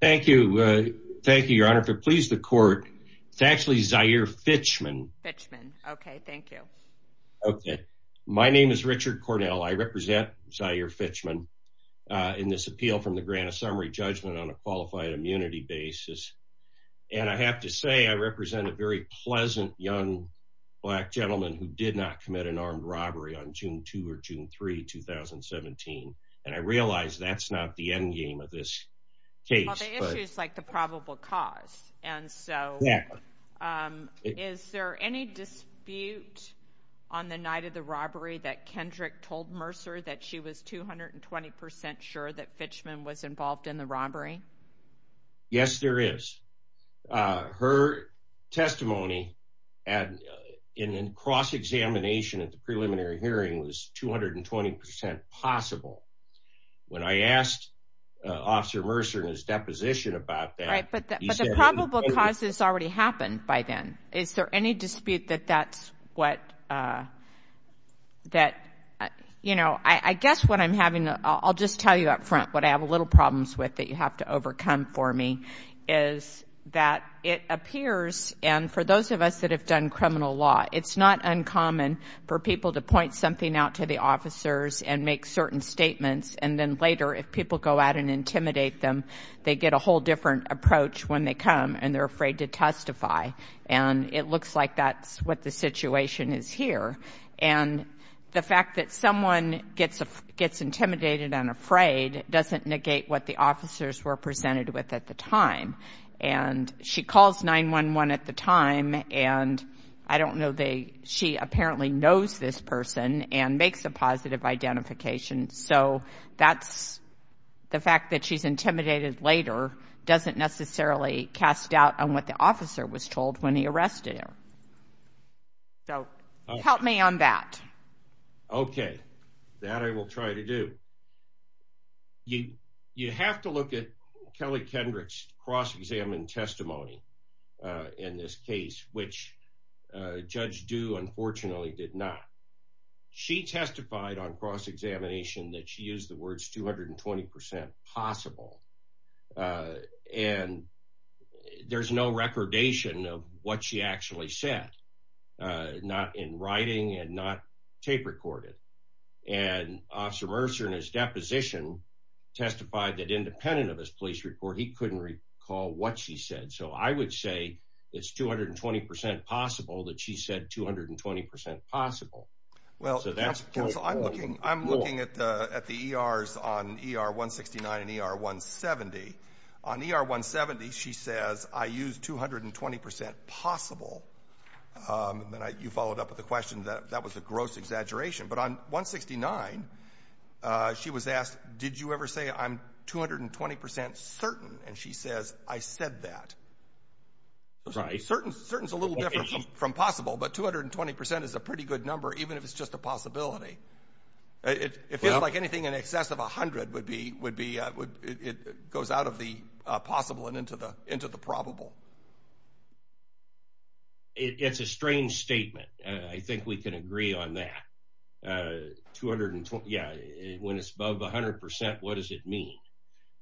Thank you. Thank you, Your Honor. If it please the court, it's actually Zyhere Fichman. Fichman. Okay. Thank you. Okay. My name is Richard Cornell. I represent Zyhere Fichman in this appeal from the Granite Summary Judgment on a Qualified Immunity Basis. And I have to say, I represent a very pleasant young black gentleman who did not commit an case. Well, the issue is like the probable cause. And so is there any dispute on the night of the robbery that Kendrick told Mercer that she was 220 percent sure that Fichman was involved in the robbery? Yes, there is. Her testimony in cross-examination at the preliminary hearing was 220 percent possible. When I asked Officer Mercer in his deposition about that, he said— But the probable cause has already happened by then. Is there any dispute that that's what, that, you know, I guess what I'm having, I'll just tell you up front what I have a little problems with that you have to overcome for me, is that it appears, and for those of us that have criminal law, it's not uncommon for people to point something out to the officers and make certain statements. And then later, if people go out and intimidate them, they get a whole different approach when they come, and they're afraid to testify. And it looks like that's what the situation is here. And the fact that someone gets intimidated and afraid doesn't negate what the officers were presented with at the time. And she calls 911 at the time, and I don't know, she apparently knows this person and makes a positive identification. So that's, the fact that she's intimidated later doesn't necessarily cast doubt on what the officer was told when he Kelly Kendrick's cross-examined testimony in this case, which Judge Dew unfortunately did not. She testified on cross-examination that she used the words 220% possible. And there's no recordation of what she actually said, not in writing and not tape recorded. And Officer Mercer in his deposition testified that independent of his police report, he couldn't recall what she said. So I would say it's 220% possible that she said 220% possible. Well, so that's, I'm looking, I'm looking at the, at the ERs on ER 169 and ER 170. On ER 170, she says I used 220% possible. And I, you followed up with the question that that was a gross exaggeration, but on 169, she was asked, did you ever say I'm 220% certain? And she says, I said that. Certain, certain is a little different from possible, but 220% is a pretty good number, even if it's just a possibility. It feels like anything in excess of a hundred would be, would be, it goes out of the possible and into the, into the probable. It's a strange statement. I think we can agree on that. 220, yeah, when it's above a hundred percent, what does it mean?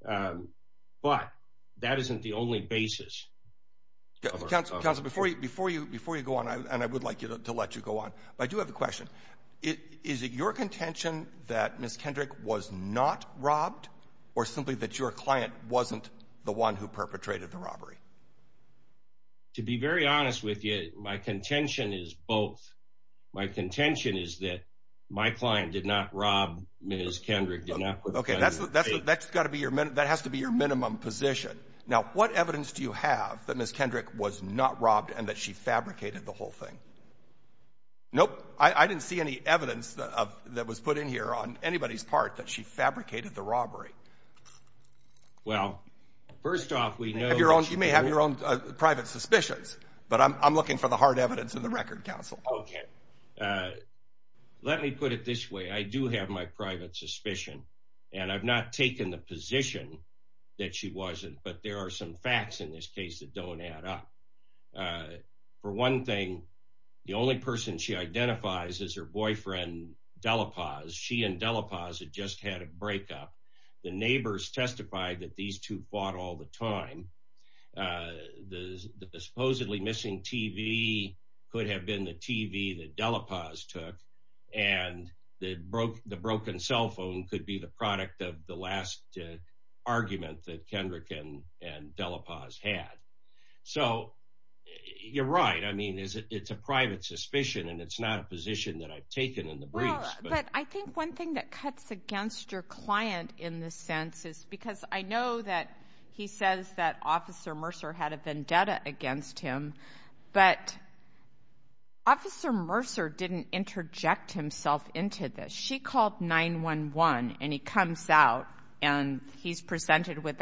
But that isn't the only basis. Councilor, Councilor, before you, before you, before you go on, and I would like you to let you go on, but I do have a question. Is it your contention that Ms. Kendrick was not robbed or simply that your client wasn't the one who To be very honest with you, my contention is both. My contention is that my client did not rob Ms. Kendrick. Okay. That's, that's, that's gotta be your minute. That has to be your minimum position. Now, what evidence do you have that Ms. Kendrick was not robbed and that she fabricated the whole thing? Nope. I didn't see any evidence of that was put in here on anybody's part that she fabricated the robbery. Well, first off, we know you may have your own private suspicions, but I'm, I'm looking for the hard evidence in the record council. Okay. Let me put it this way. I do have my private suspicion and I've not taken the position that she wasn't, but there are some facts in this case that don't add up. Uh, for one thing, the only person she identifies as her boyfriend, Delapaz, she and Delapaz had just had a breakup. The neighbors testified that these two fought all the time. Uh, the supposedly missing TV could have been the TV that Delapaz took and the broke, the broken cell phone could be the product of the last argument that Kendrick and, and Delapaz had. So you're right. I mean, is it, it's a private suspicion and it's not a position that I've taken in the briefs. But I think one thing that cuts against your client in the sense is because I know that he says that officer Mercer had a vendetta against him, but officer Mercer didn't interject himself into this. She called nine one one and he comes out and he's presented with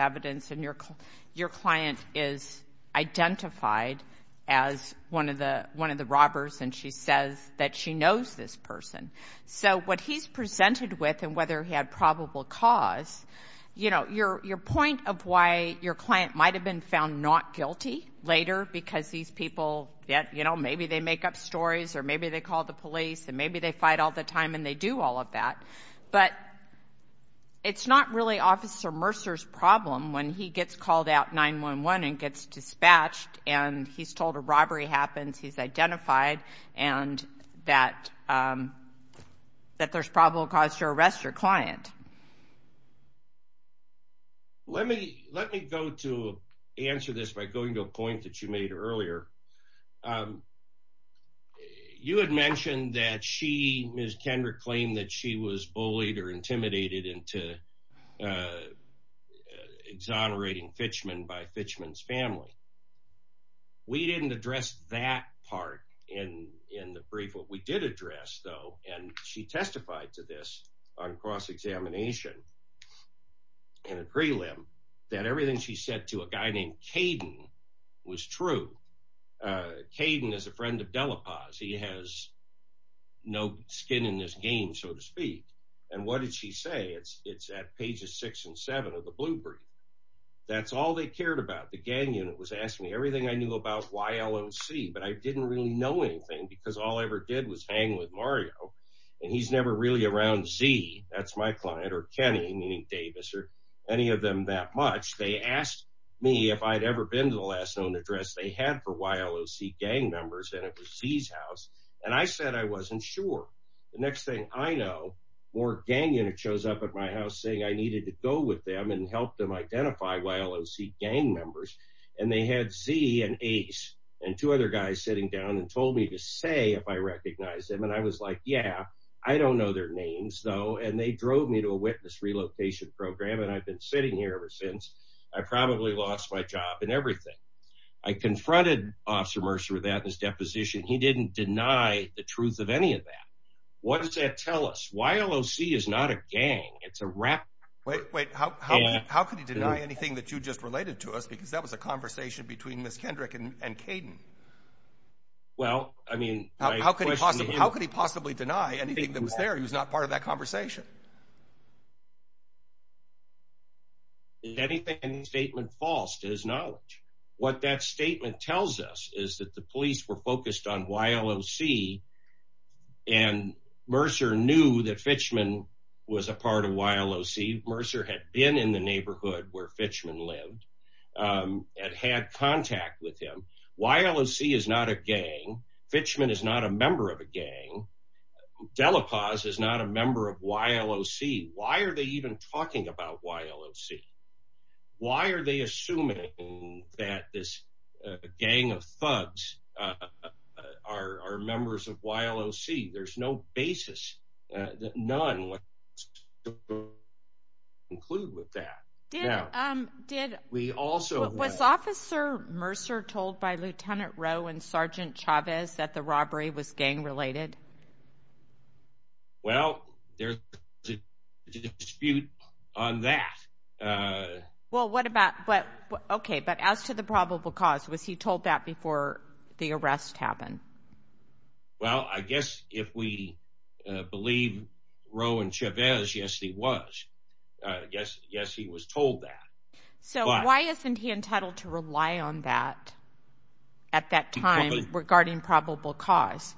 identified as one of the, one of the robbers. And she says that she knows this person. So what he's presented with and whether he had probable cause, you know, your, your point of why your client might've been found not guilty later because these people, yeah, you know, maybe they make up stories or maybe they call the police and maybe they fight all the time and they do all of that. But it's not really officer Mercer's problem when he gets called out nine one one and gets dispatched and he's told a robbery happens, he's identified and that, that there's probable cause to arrest your client. Let me, let me go to answer this by going to a point that you made earlier. You had mentioned that she, Ms. Kendrick claimed that she was bullied or intimidated into exonerating Fitchman by Fitchman's family. We didn't address that part in, in the brief. What we did address though, and she testified to this on cross-examination and a prelim that everything she said to a guy named Caden was true. Caden is a friend of Delapaz. He has no skin in this game, so to speak. And what did she say? It's, it's at pages six and seven of the blue brief. That's all they cared about. The gang unit was asking me everything I knew about YLOC, but I didn't really know anything because all I ever did was hang with Mario and he's never really around Z, that's my client or Kenny, meaning Davis or any of them that much. They asked me if I'd ever been to the last known address they had for YLOC gang members and it was Z's house. And I said, I wasn't sure. The next thing I know, more gang unit shows up at my house saying I needed to go with them and help them identify YLOC gang members. And they had Z and Ace and two other guys sitting down and told me to say if I recognized them. And I was like, yeah, I don't know their names though. And they drove me to a witness relocation program. And I've been sitting here ever since. I probably lost my job and everything. I confronted officer Mercer with that in his deposition. He didn't deny the truth of any of that. What does that tell us? YLOC is not a gang. It's a rap. Wait, wait, how can you deny anything that you just related to us? Because that was a conversation between Ms. Kendrick and Caden. Well, I mean, how could he possibly deny anything that was there? He was not part of that conversation. Is anything in the statement false to his knowledge? What that statement tells us is that the police were focused on YLOC and Mercer knew that Fitchman was a part of YLOC. Mercer had been in the neighborhood where Fitchman lived and had contact with him. YLOC is not a gang. Fitchman is not a member of a gang. Delapaz is not a member of YLOC. Why are they even talking about YLOC? Why are they assuming that this gang of thugs are members of YLOC? There's no basis, none, to conclude with that. Was officer Mercer told by Lieutenant Rowe and Sergeant Chavez that the robbery was gang related? Well, there's a dispute on that. Okay, but as to the probable cause, was he told that before the arrest happened? Well, I guess if we believe Rowe and Chavez, yes, he was. Yes, he was told that. So why isn't he entitled to rely on that at that time regarding probable cause?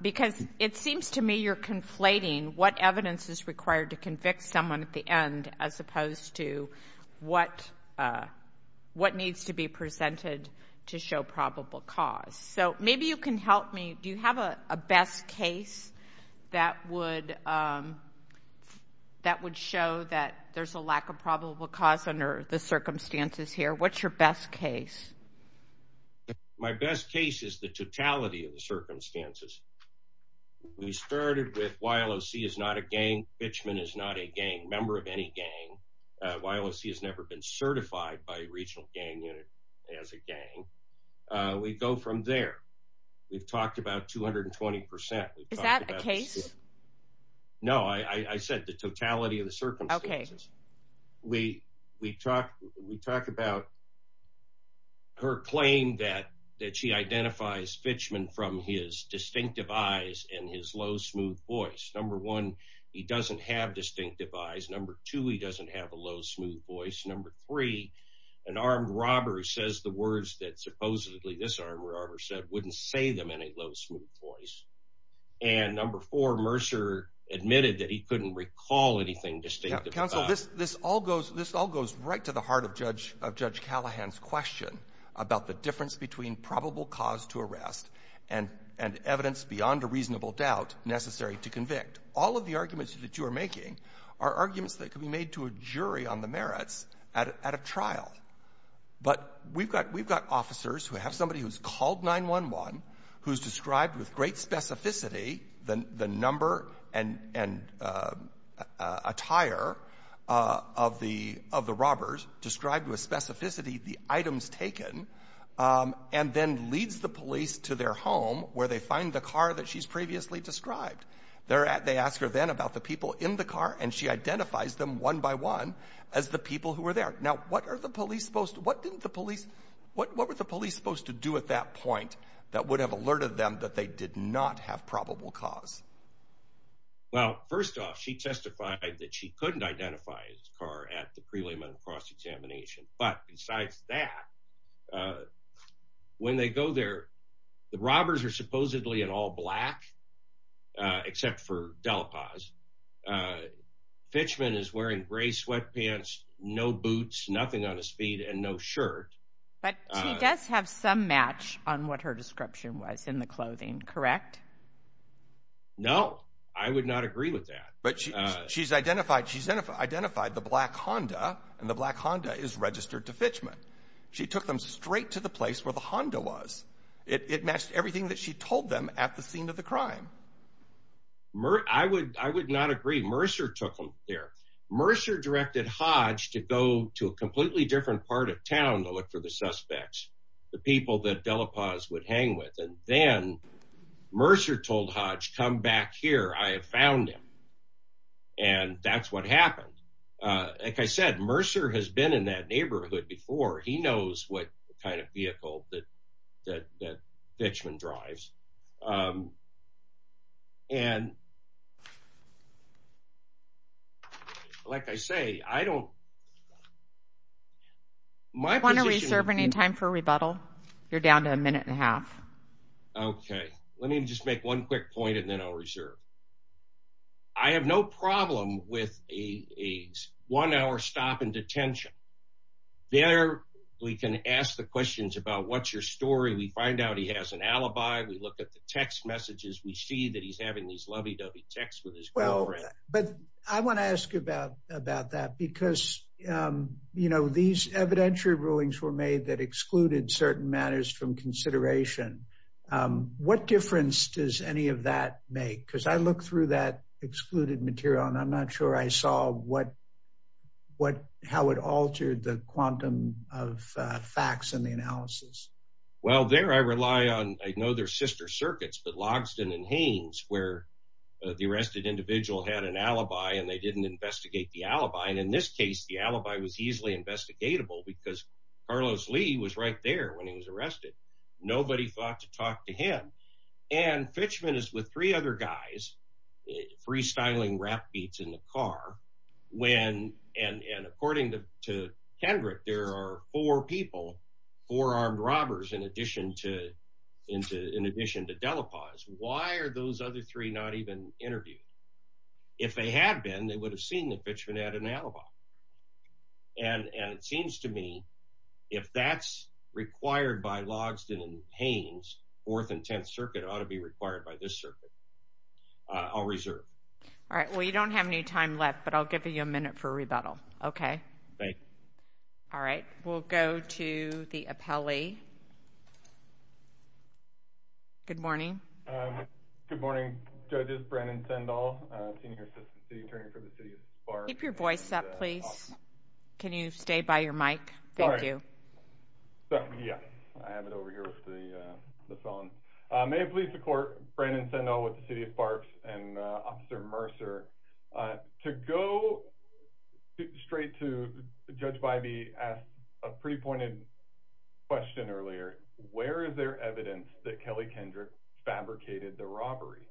Because it seems to me you're conflating what evidence is required to convict someone at the end as opposed to what needs to be presented to show probable cause. So maybe you can help me. Do you have a best case that would show that there's a lack of probable cause under the circumstances? We started with YLOC is not a gang. Fitchman is not a gang member of any gang. YLOC has never been certified by regional gang unit as a gang. We go from there. We've talked about 220%. Is that a case? No, I said the totality of the circumstances. We talked about her claim that she identifies Fitchman from his distinctive eyes and his low, smooth voice. Number one, he doesn't have distinctive eyes. Number two, he doesn't have a low, smooth voice. Number three, an armed robber says the words that supposedly this armed robber said wouldn't say them in a low, smooth voice. And number four, Mercer admitted that he couldn't recall anything distinctive about him. Counsel, this all goes right to the heart of Judge Callahan's question about the difference between probable cause to arrest and evidence beyond a reasonable doubt necessary to convict. All of the arguments that you are making are arguments that could be made to a jury on the merits at a trial. But we've got officers who have somebody who's called 911, who's described with great specificity the number and attire of the robbers, described with specificity the items taken, and then leads the police to their home where they find the car that she's previously described. They ask her then about the people in the car, and she identifies them one by one as the people who were there. Now, what were the police supposed to do at that point that would did not have probable cause? Well, first off, she testified that she couldn't identify his car at the preliminary cross-examination. But besides that, when they go there, the robbers are supposedly in all black, except for Delapaz. Fitchman is wearing gray sweatpants, no boots, nothing on his feet, and no shirt. But she does have some match on what her description was in the clothing, correct? No, I would not agree with that. But she's identified the black Honda, and the black Honda is registered to Fitchman. She took them straight to the place where the Honda was. It matched everything that she told them at the scene of the crime. I would not agree. Mercer took them there. Mercer directed Hodge to go to a completely different part of town to look for the suspects, the people that Delapaz would hang with. And then Mercer told Hodge, come back here, I have found him. And that's what happened. Like I said, Mercer has been in that neighborhood before. He knows what kind of vehicle that Fitchman drives. And like I say, I don't want to reserve any time for rebuttal. You're down to a minute and a half. Okay, let me just make one quick point, and then I'll reserve. I have no problem with a one hour stop in detention. There, we can ask the questions about what's your story, we find out he has an alibi, we look at the text messages, we see that he's having these lovey dovey texts with his girlfriend. But I want to ask you about that because these evidentiary rulings were made that excluded certain matters from consideration. What difference does any of that make? Because I look through that excluded material, and I'm not sure I saw how it altered the quantum of facts in the analysis. Well, there I rely on, I know they're sister circuits, but Logsdon and Haines, where the arrested individual had an alibi, and they didn't investigate the alibi. And in this case, the alibi was easily investigatable because Carlos Lee was right there when he was arrested. Nobody thought to talk to him. And Fitchman is with three other guys, freestyling rap beats in the car. And according to Kendrick, there are four people, four armed robbers in addition to why are those other three not even interviewed? If they had been, they would have seen that Fitchman had an alibi. And it seems to me, if that's required by Logsdon and Haines, fourth and 10th circuit ought to be required by this circuit. I'll reserve. All right, well, you don't have any time left, but I'll give you a minute for rebuttal. Okay. Thanks. All right, we'll go to the appellee. Good morning. Good morning, judges. Brandon Sendall, senior assistant city attorney for the city of Barks. Keep your voice up, please. Can you stay by your mic? Thank you. Yes, I have it over here with the phone. May it please the court, Brandon Sendall with the city of Barks and Officer Mercer. To go straight to Judge Bybee asked a pre-pointed question earlier, where is there evidence that Kelly Kendrick fabricated the robbery?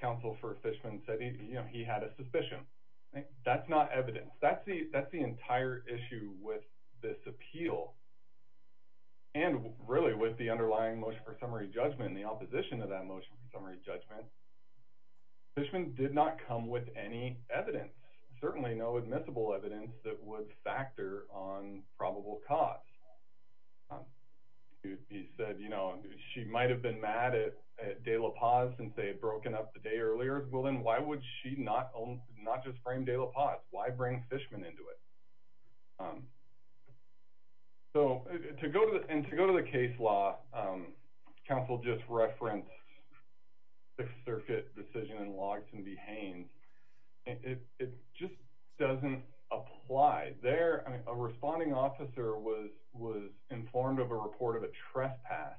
Counsel for Fitchman said he had a suspicion. That's not evidence. That's the entire issue with this appeal. And really with the underlying motion for summary judgment and the opposition of that motion for summary judgment, Fitchman did not come with any evidence, certainly no admissible evidence that would factor on probable cause. He said, you know, she might've been mad at De La Paz since they had broken up the day earlier. Well, then why would she not just frame De La Paz? Why bring Fitchman into it? And to go to the case law, counsel just referenced Sixth Circuit decision in Logsdon v. Haynes. It just doesn't apply. There, a responding officer was informed of a report of a trespass.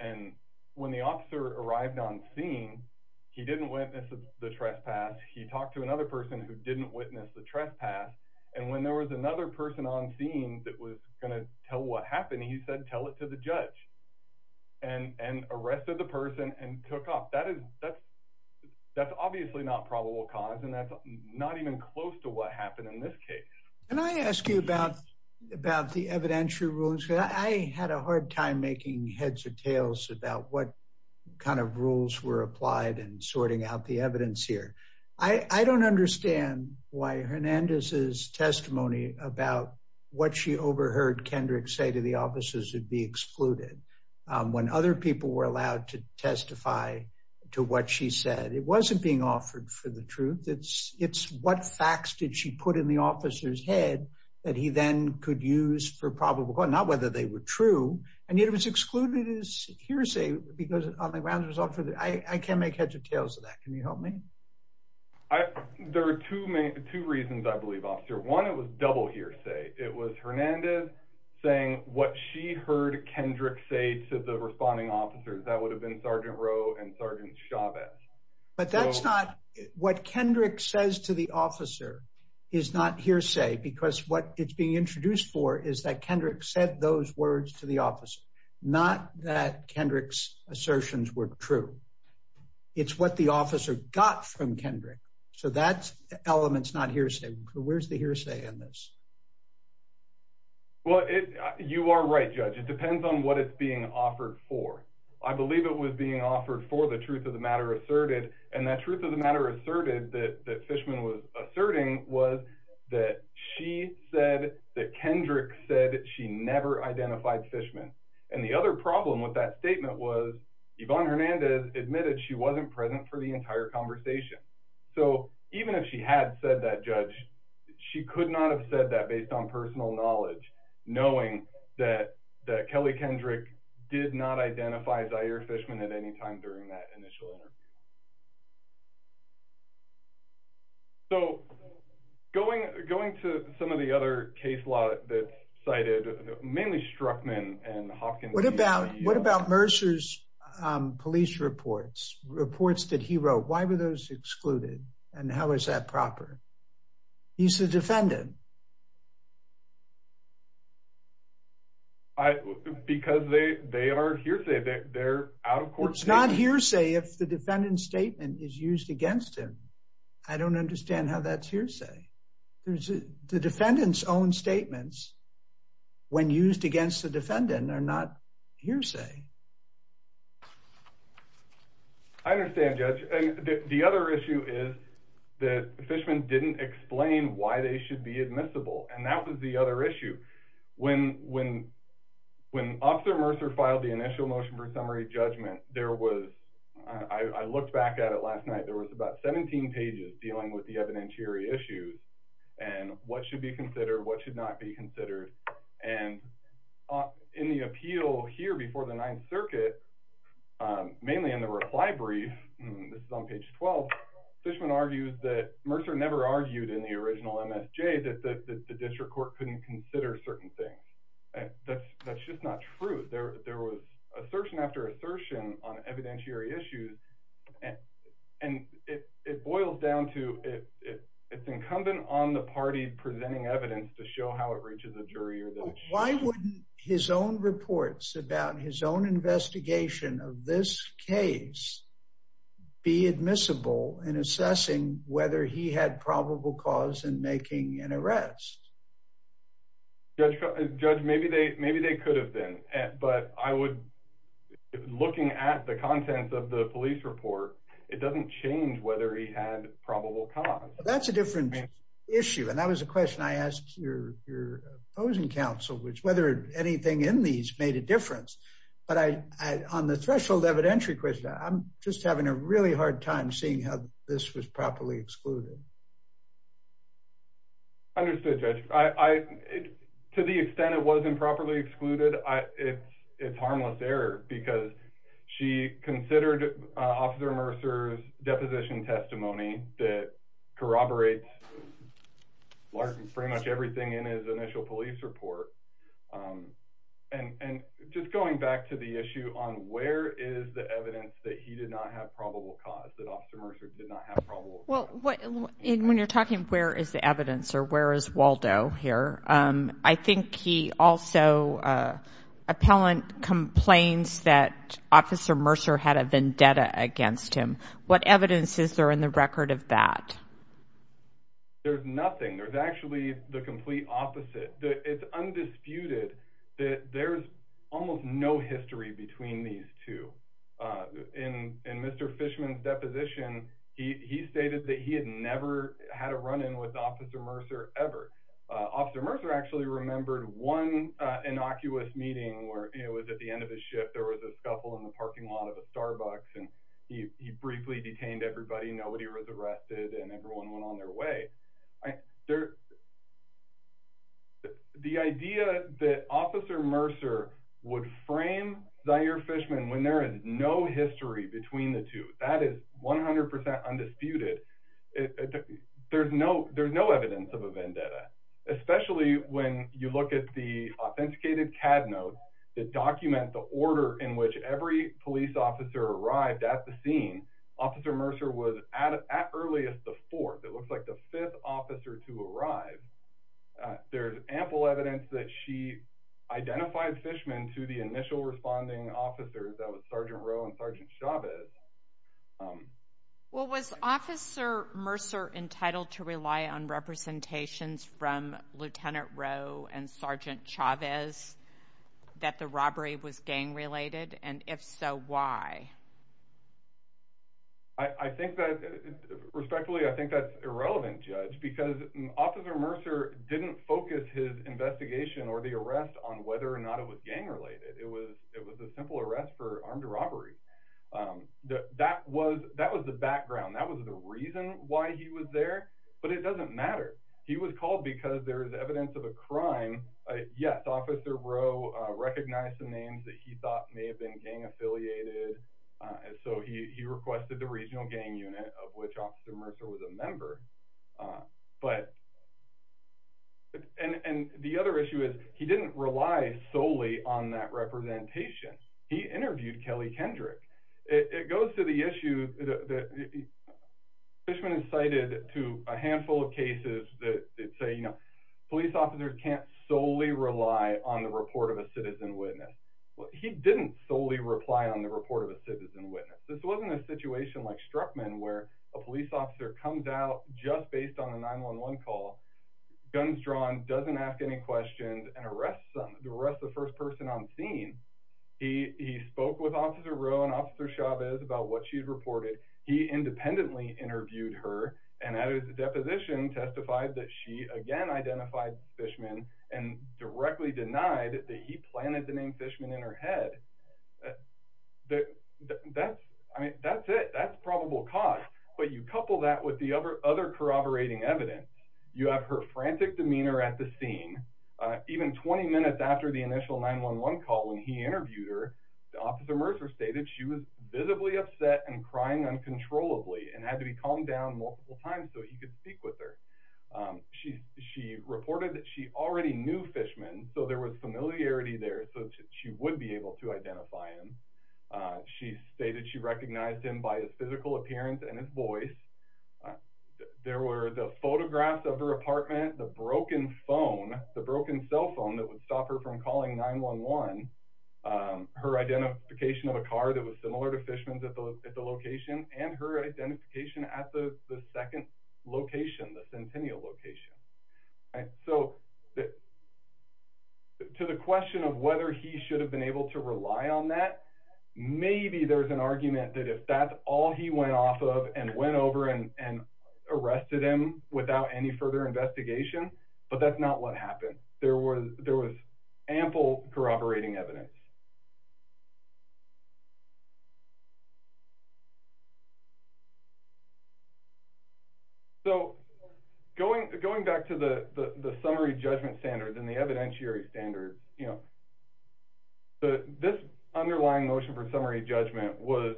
And when the officer arrived on scene, he didn't witness the trespass. He talked to another person who didn't witness the trespass. And when there was another person on scene that was gonna tell what happened, he said, tell it to the judge. And arrested the person and took off. That's obviously not probable cause. And that's not even close to what happened in this case. Can I ask you about the evidentiary rules? I had a hard time making heads or tails about what kind of rules were applied and sorting out the evidence here. I don't understand why Hernandez's testimony about what she overheard Kendrick say to the officers would be excluded when other people were allowed to testify to what she said. It wasn't being offered for the truth. It's what facts did she put in the officer's head that he then could use for probable cause, not whether they were true. And yet it was excluded as hearsay because on the grounds it was offered. I can't make heads or tails of that. Can you help me? There are two reasons I believe, officer. One, it was double hearsay. It was Hernandez saying what she heard Kendrick say to the responding officers. That would have been Sergeant Rowe and Sergeant Chavez. But that's not, what Kendrick says to the officer is not hearsay because what it's being introduced for is that Kendrick said those words to the officer, not that Kendrick's assertions were true. It's what the officer got from Kendrick. So that element's not hearsay. Where's the hearsay in this? Well, you are right, Judge. It depends on what it's being offered for. I believe it was being offered for the truth of the matter asserted. And that truth of the matter asserted that Fishman was asserting was that she said that Kendrick said that she never identified Fishman. And the other problem with that statement was Yvonne Hernandez admitted she wasn't present for the entire conversation. So even if she had said that, Judge, she could not have said that based on personal knowledge, knowing that Kelly Kendrick did not identify Zaire Fishman at any time during that initial interview. So going to some of the other case law that's cited, mainly Strzokman and Hopkins. What about Mercer's police reports, reports that he wrote? Why were those excluded? And how is that proper? He's the defendant. Because they are hearsay. They're out of court. It's not hearsay if the defendant's statement is used against him. I don't understand how that's hearsay. The defendant's own statements when used against the defendant are not hearsay. I understand, Judge. And the other issue is that Fishman didn't explain why they should be admissible. And that was the other issue. When Officer Mercer filed the initial motion for summary judgment, there was, I looked back at it last night, there was about 17 pages dealing with the evidentiary issues and what should be considered, what should not be considered. And in the appeal here before the Ninth Circuit, mainly in the reply brief, this is on page 12, Fishman argues that Mercer never argued in the original MSJ that the district court couldn't consider certain things. That's just not true. There was assertion after assertion on evidentiary issues. And it boils down to it's incumbent on the party presenting evidence to show how it reaches a jury. Why wouldn't his own reports about his own investigation of this case be admissible in assessing whether he had probable cause in making an arrest? Judge, maybe they could have been. But I would, looking at the contents of the police report, it doesn't change whether he had probable cause. That's a different issue. And that was a question I asked your opposing counsel, which whether anything in these made a difference. But on the threshold evidentiary question, I'm just having a really hard time seeing how this was properly excluded. Understood, Judge. To the extent it wasn't properly excluded, it's harmless error because she considered Officer Mercer's deposition testimony that corroborates pretty much everything in his initial police report. And just going back to the issue on is the evidence that he did not have probable cause, that Officer Mercer did not have probable cause. When you're talking where is the evidence or where is Waldo here, I think he also, appellant complains that Officer Mercer had a vendetta against him. What evidence is there in the record of that? There's nothing. There's actually the complete opposite. It's undisputed that there's almost no history between these two. In Mr. Fishman's deposition, he stated that he had never had a run-in with Officer Mercer ever. Officer Mercer actually remembered one innocuous meeting where it was at the end of his shift, there was a scuffle in the parking lot of a Starbucks and he briefly detained everybody. Nobody was arrested and everyone went their way. The idea that Officer Mercer would frame Zaire Fishman when there is no history between the two, that is 100% undisputed. There's no evidence of a vendetta, especially when you look at the authenticated CAD notes that document the order in which every police officer arrived at the scene. Officer Mercer was at earliest the fourth, it looks like the fifth officer to arrive. There's ample evidence that she identified Fishman to the initial responding officers, that was Sergeant Rowe and Sergeant Chavez. Well, was Officer Mercer entitled to rely on representations from Lieutenant Rowe and Sergeant Chavez that the robbery was gang-related and if so, why? Respectfully, I think that's irrelevant, Judge, because Officer Mercer didn't focus his investigation or the arrest on whether or not it was gang-related. It was a simple arrest for armed robbery. That was the background, that was the reason why he was there, but it doesn't matter. He was called because there is evidence of a crime. Yes, Officer Rowe recognized the names that he associated, and so he requested the regional gang unit of which Officer Mercer was a member, but, and the other issue is he didn't rely solely on that representation. He interviewed Kelly Kendrick. It goes to the issue that Fishman incited to a handful of cases that say, you know, police officers can't solely rely on the report of a citizen witness. He didn't solely reply on the report of a citizen witness. This wasn't a situation like Struckman where a police officer comes out just based on a 911 call, guns drawn, doesn't ask any questions, and arrests the first person on scene. He spoke with Officer Rowe and Officer Chavez about what she'd reported. He independently interviewed her and at his deposition testified that she again identified Fishman and directly denied that he planted the name Fishman in her head. That's, I mean, that's it. That's probable cause, but you couple that with the other corroborating evidence. You have her frantic demeanor at the scene. Even 20 minutes after the initial 911 call when he interviewed her, Officer Mercer stated she was visibly upset and crying uncontrollably and had to be calmed down multiple times so he could speak with her. She reported that she already knew Fishman, so there was familiarity there, so she would be able to identify him. She stated she recognized him by his physical appearance and his voice. There were the photographs of her apartment, the broken phone, the broken cell phone that would stop her from calling 911, her identification of a car that was similar to Fishman's at the location and her identification at the second location, the Centennial location. To the question of whether he should have been able to rely on that, maybe there's an argument that if that's all he went off of and went over and arrested him without any further investigation, but that's not what happened. There was ample corroborating evidence. So going back to the summary judgment standards and the evidentiary standards, this underlying motion for summary judgment was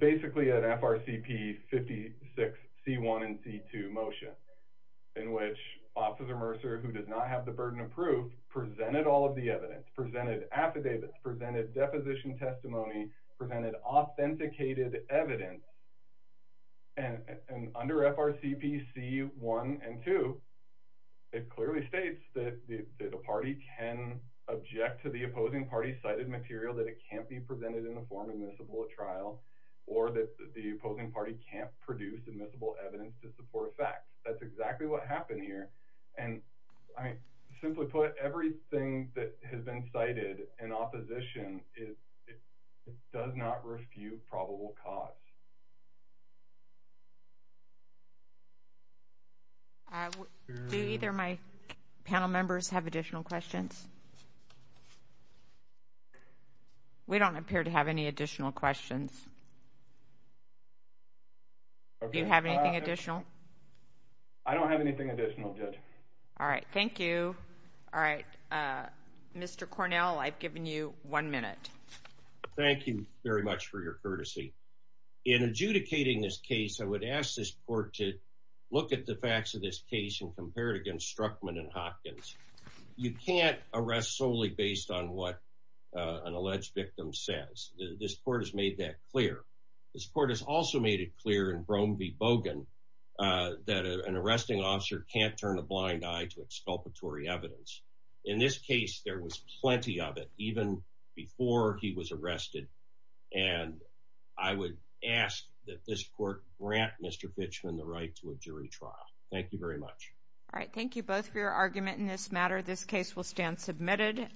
basically an FRCP 56C1 and C2 motion in which Officer Mercer, who does not have the burden of proof, presented all of the evidence, presented affidavits, presented deposition testimony, presented authenticated evidence, and under FRCP C1 and 2, it clearly states that the party can object to the opposing party's cited material, that it can't be presented in the form admissible at trial, or that the opposing party can't produce admissible evidence to support facts. That's exactly what happened here, and I mean, simply put, everything that has been cited in opposition does not refute probable cause. Do either of my panel members have additional questions? We don't appear to have any additional questions. Do you have anything additional? I don't have anything additional, Judge. Thank you. Mr. Cornell, I've given you one minute. Thank you very much for your courtesy. In adjudicating this case, I would ask this court to look at the facts of this case and compare it against Struckman and Hopkins. You can't arrest solely based on what an alleged victim says. This court has made that clear. This court has also made it clear in Brome v. Bogan that an arresting officer can't turn a sculpatory evidence. In this case, there was plenty of it, even before he was arrested, and I would ask that this court grant Mr. Fitchman the right to a jury trial. Thank you very much. All right. Thank you both for your argument in this matter. This case will stand submitted.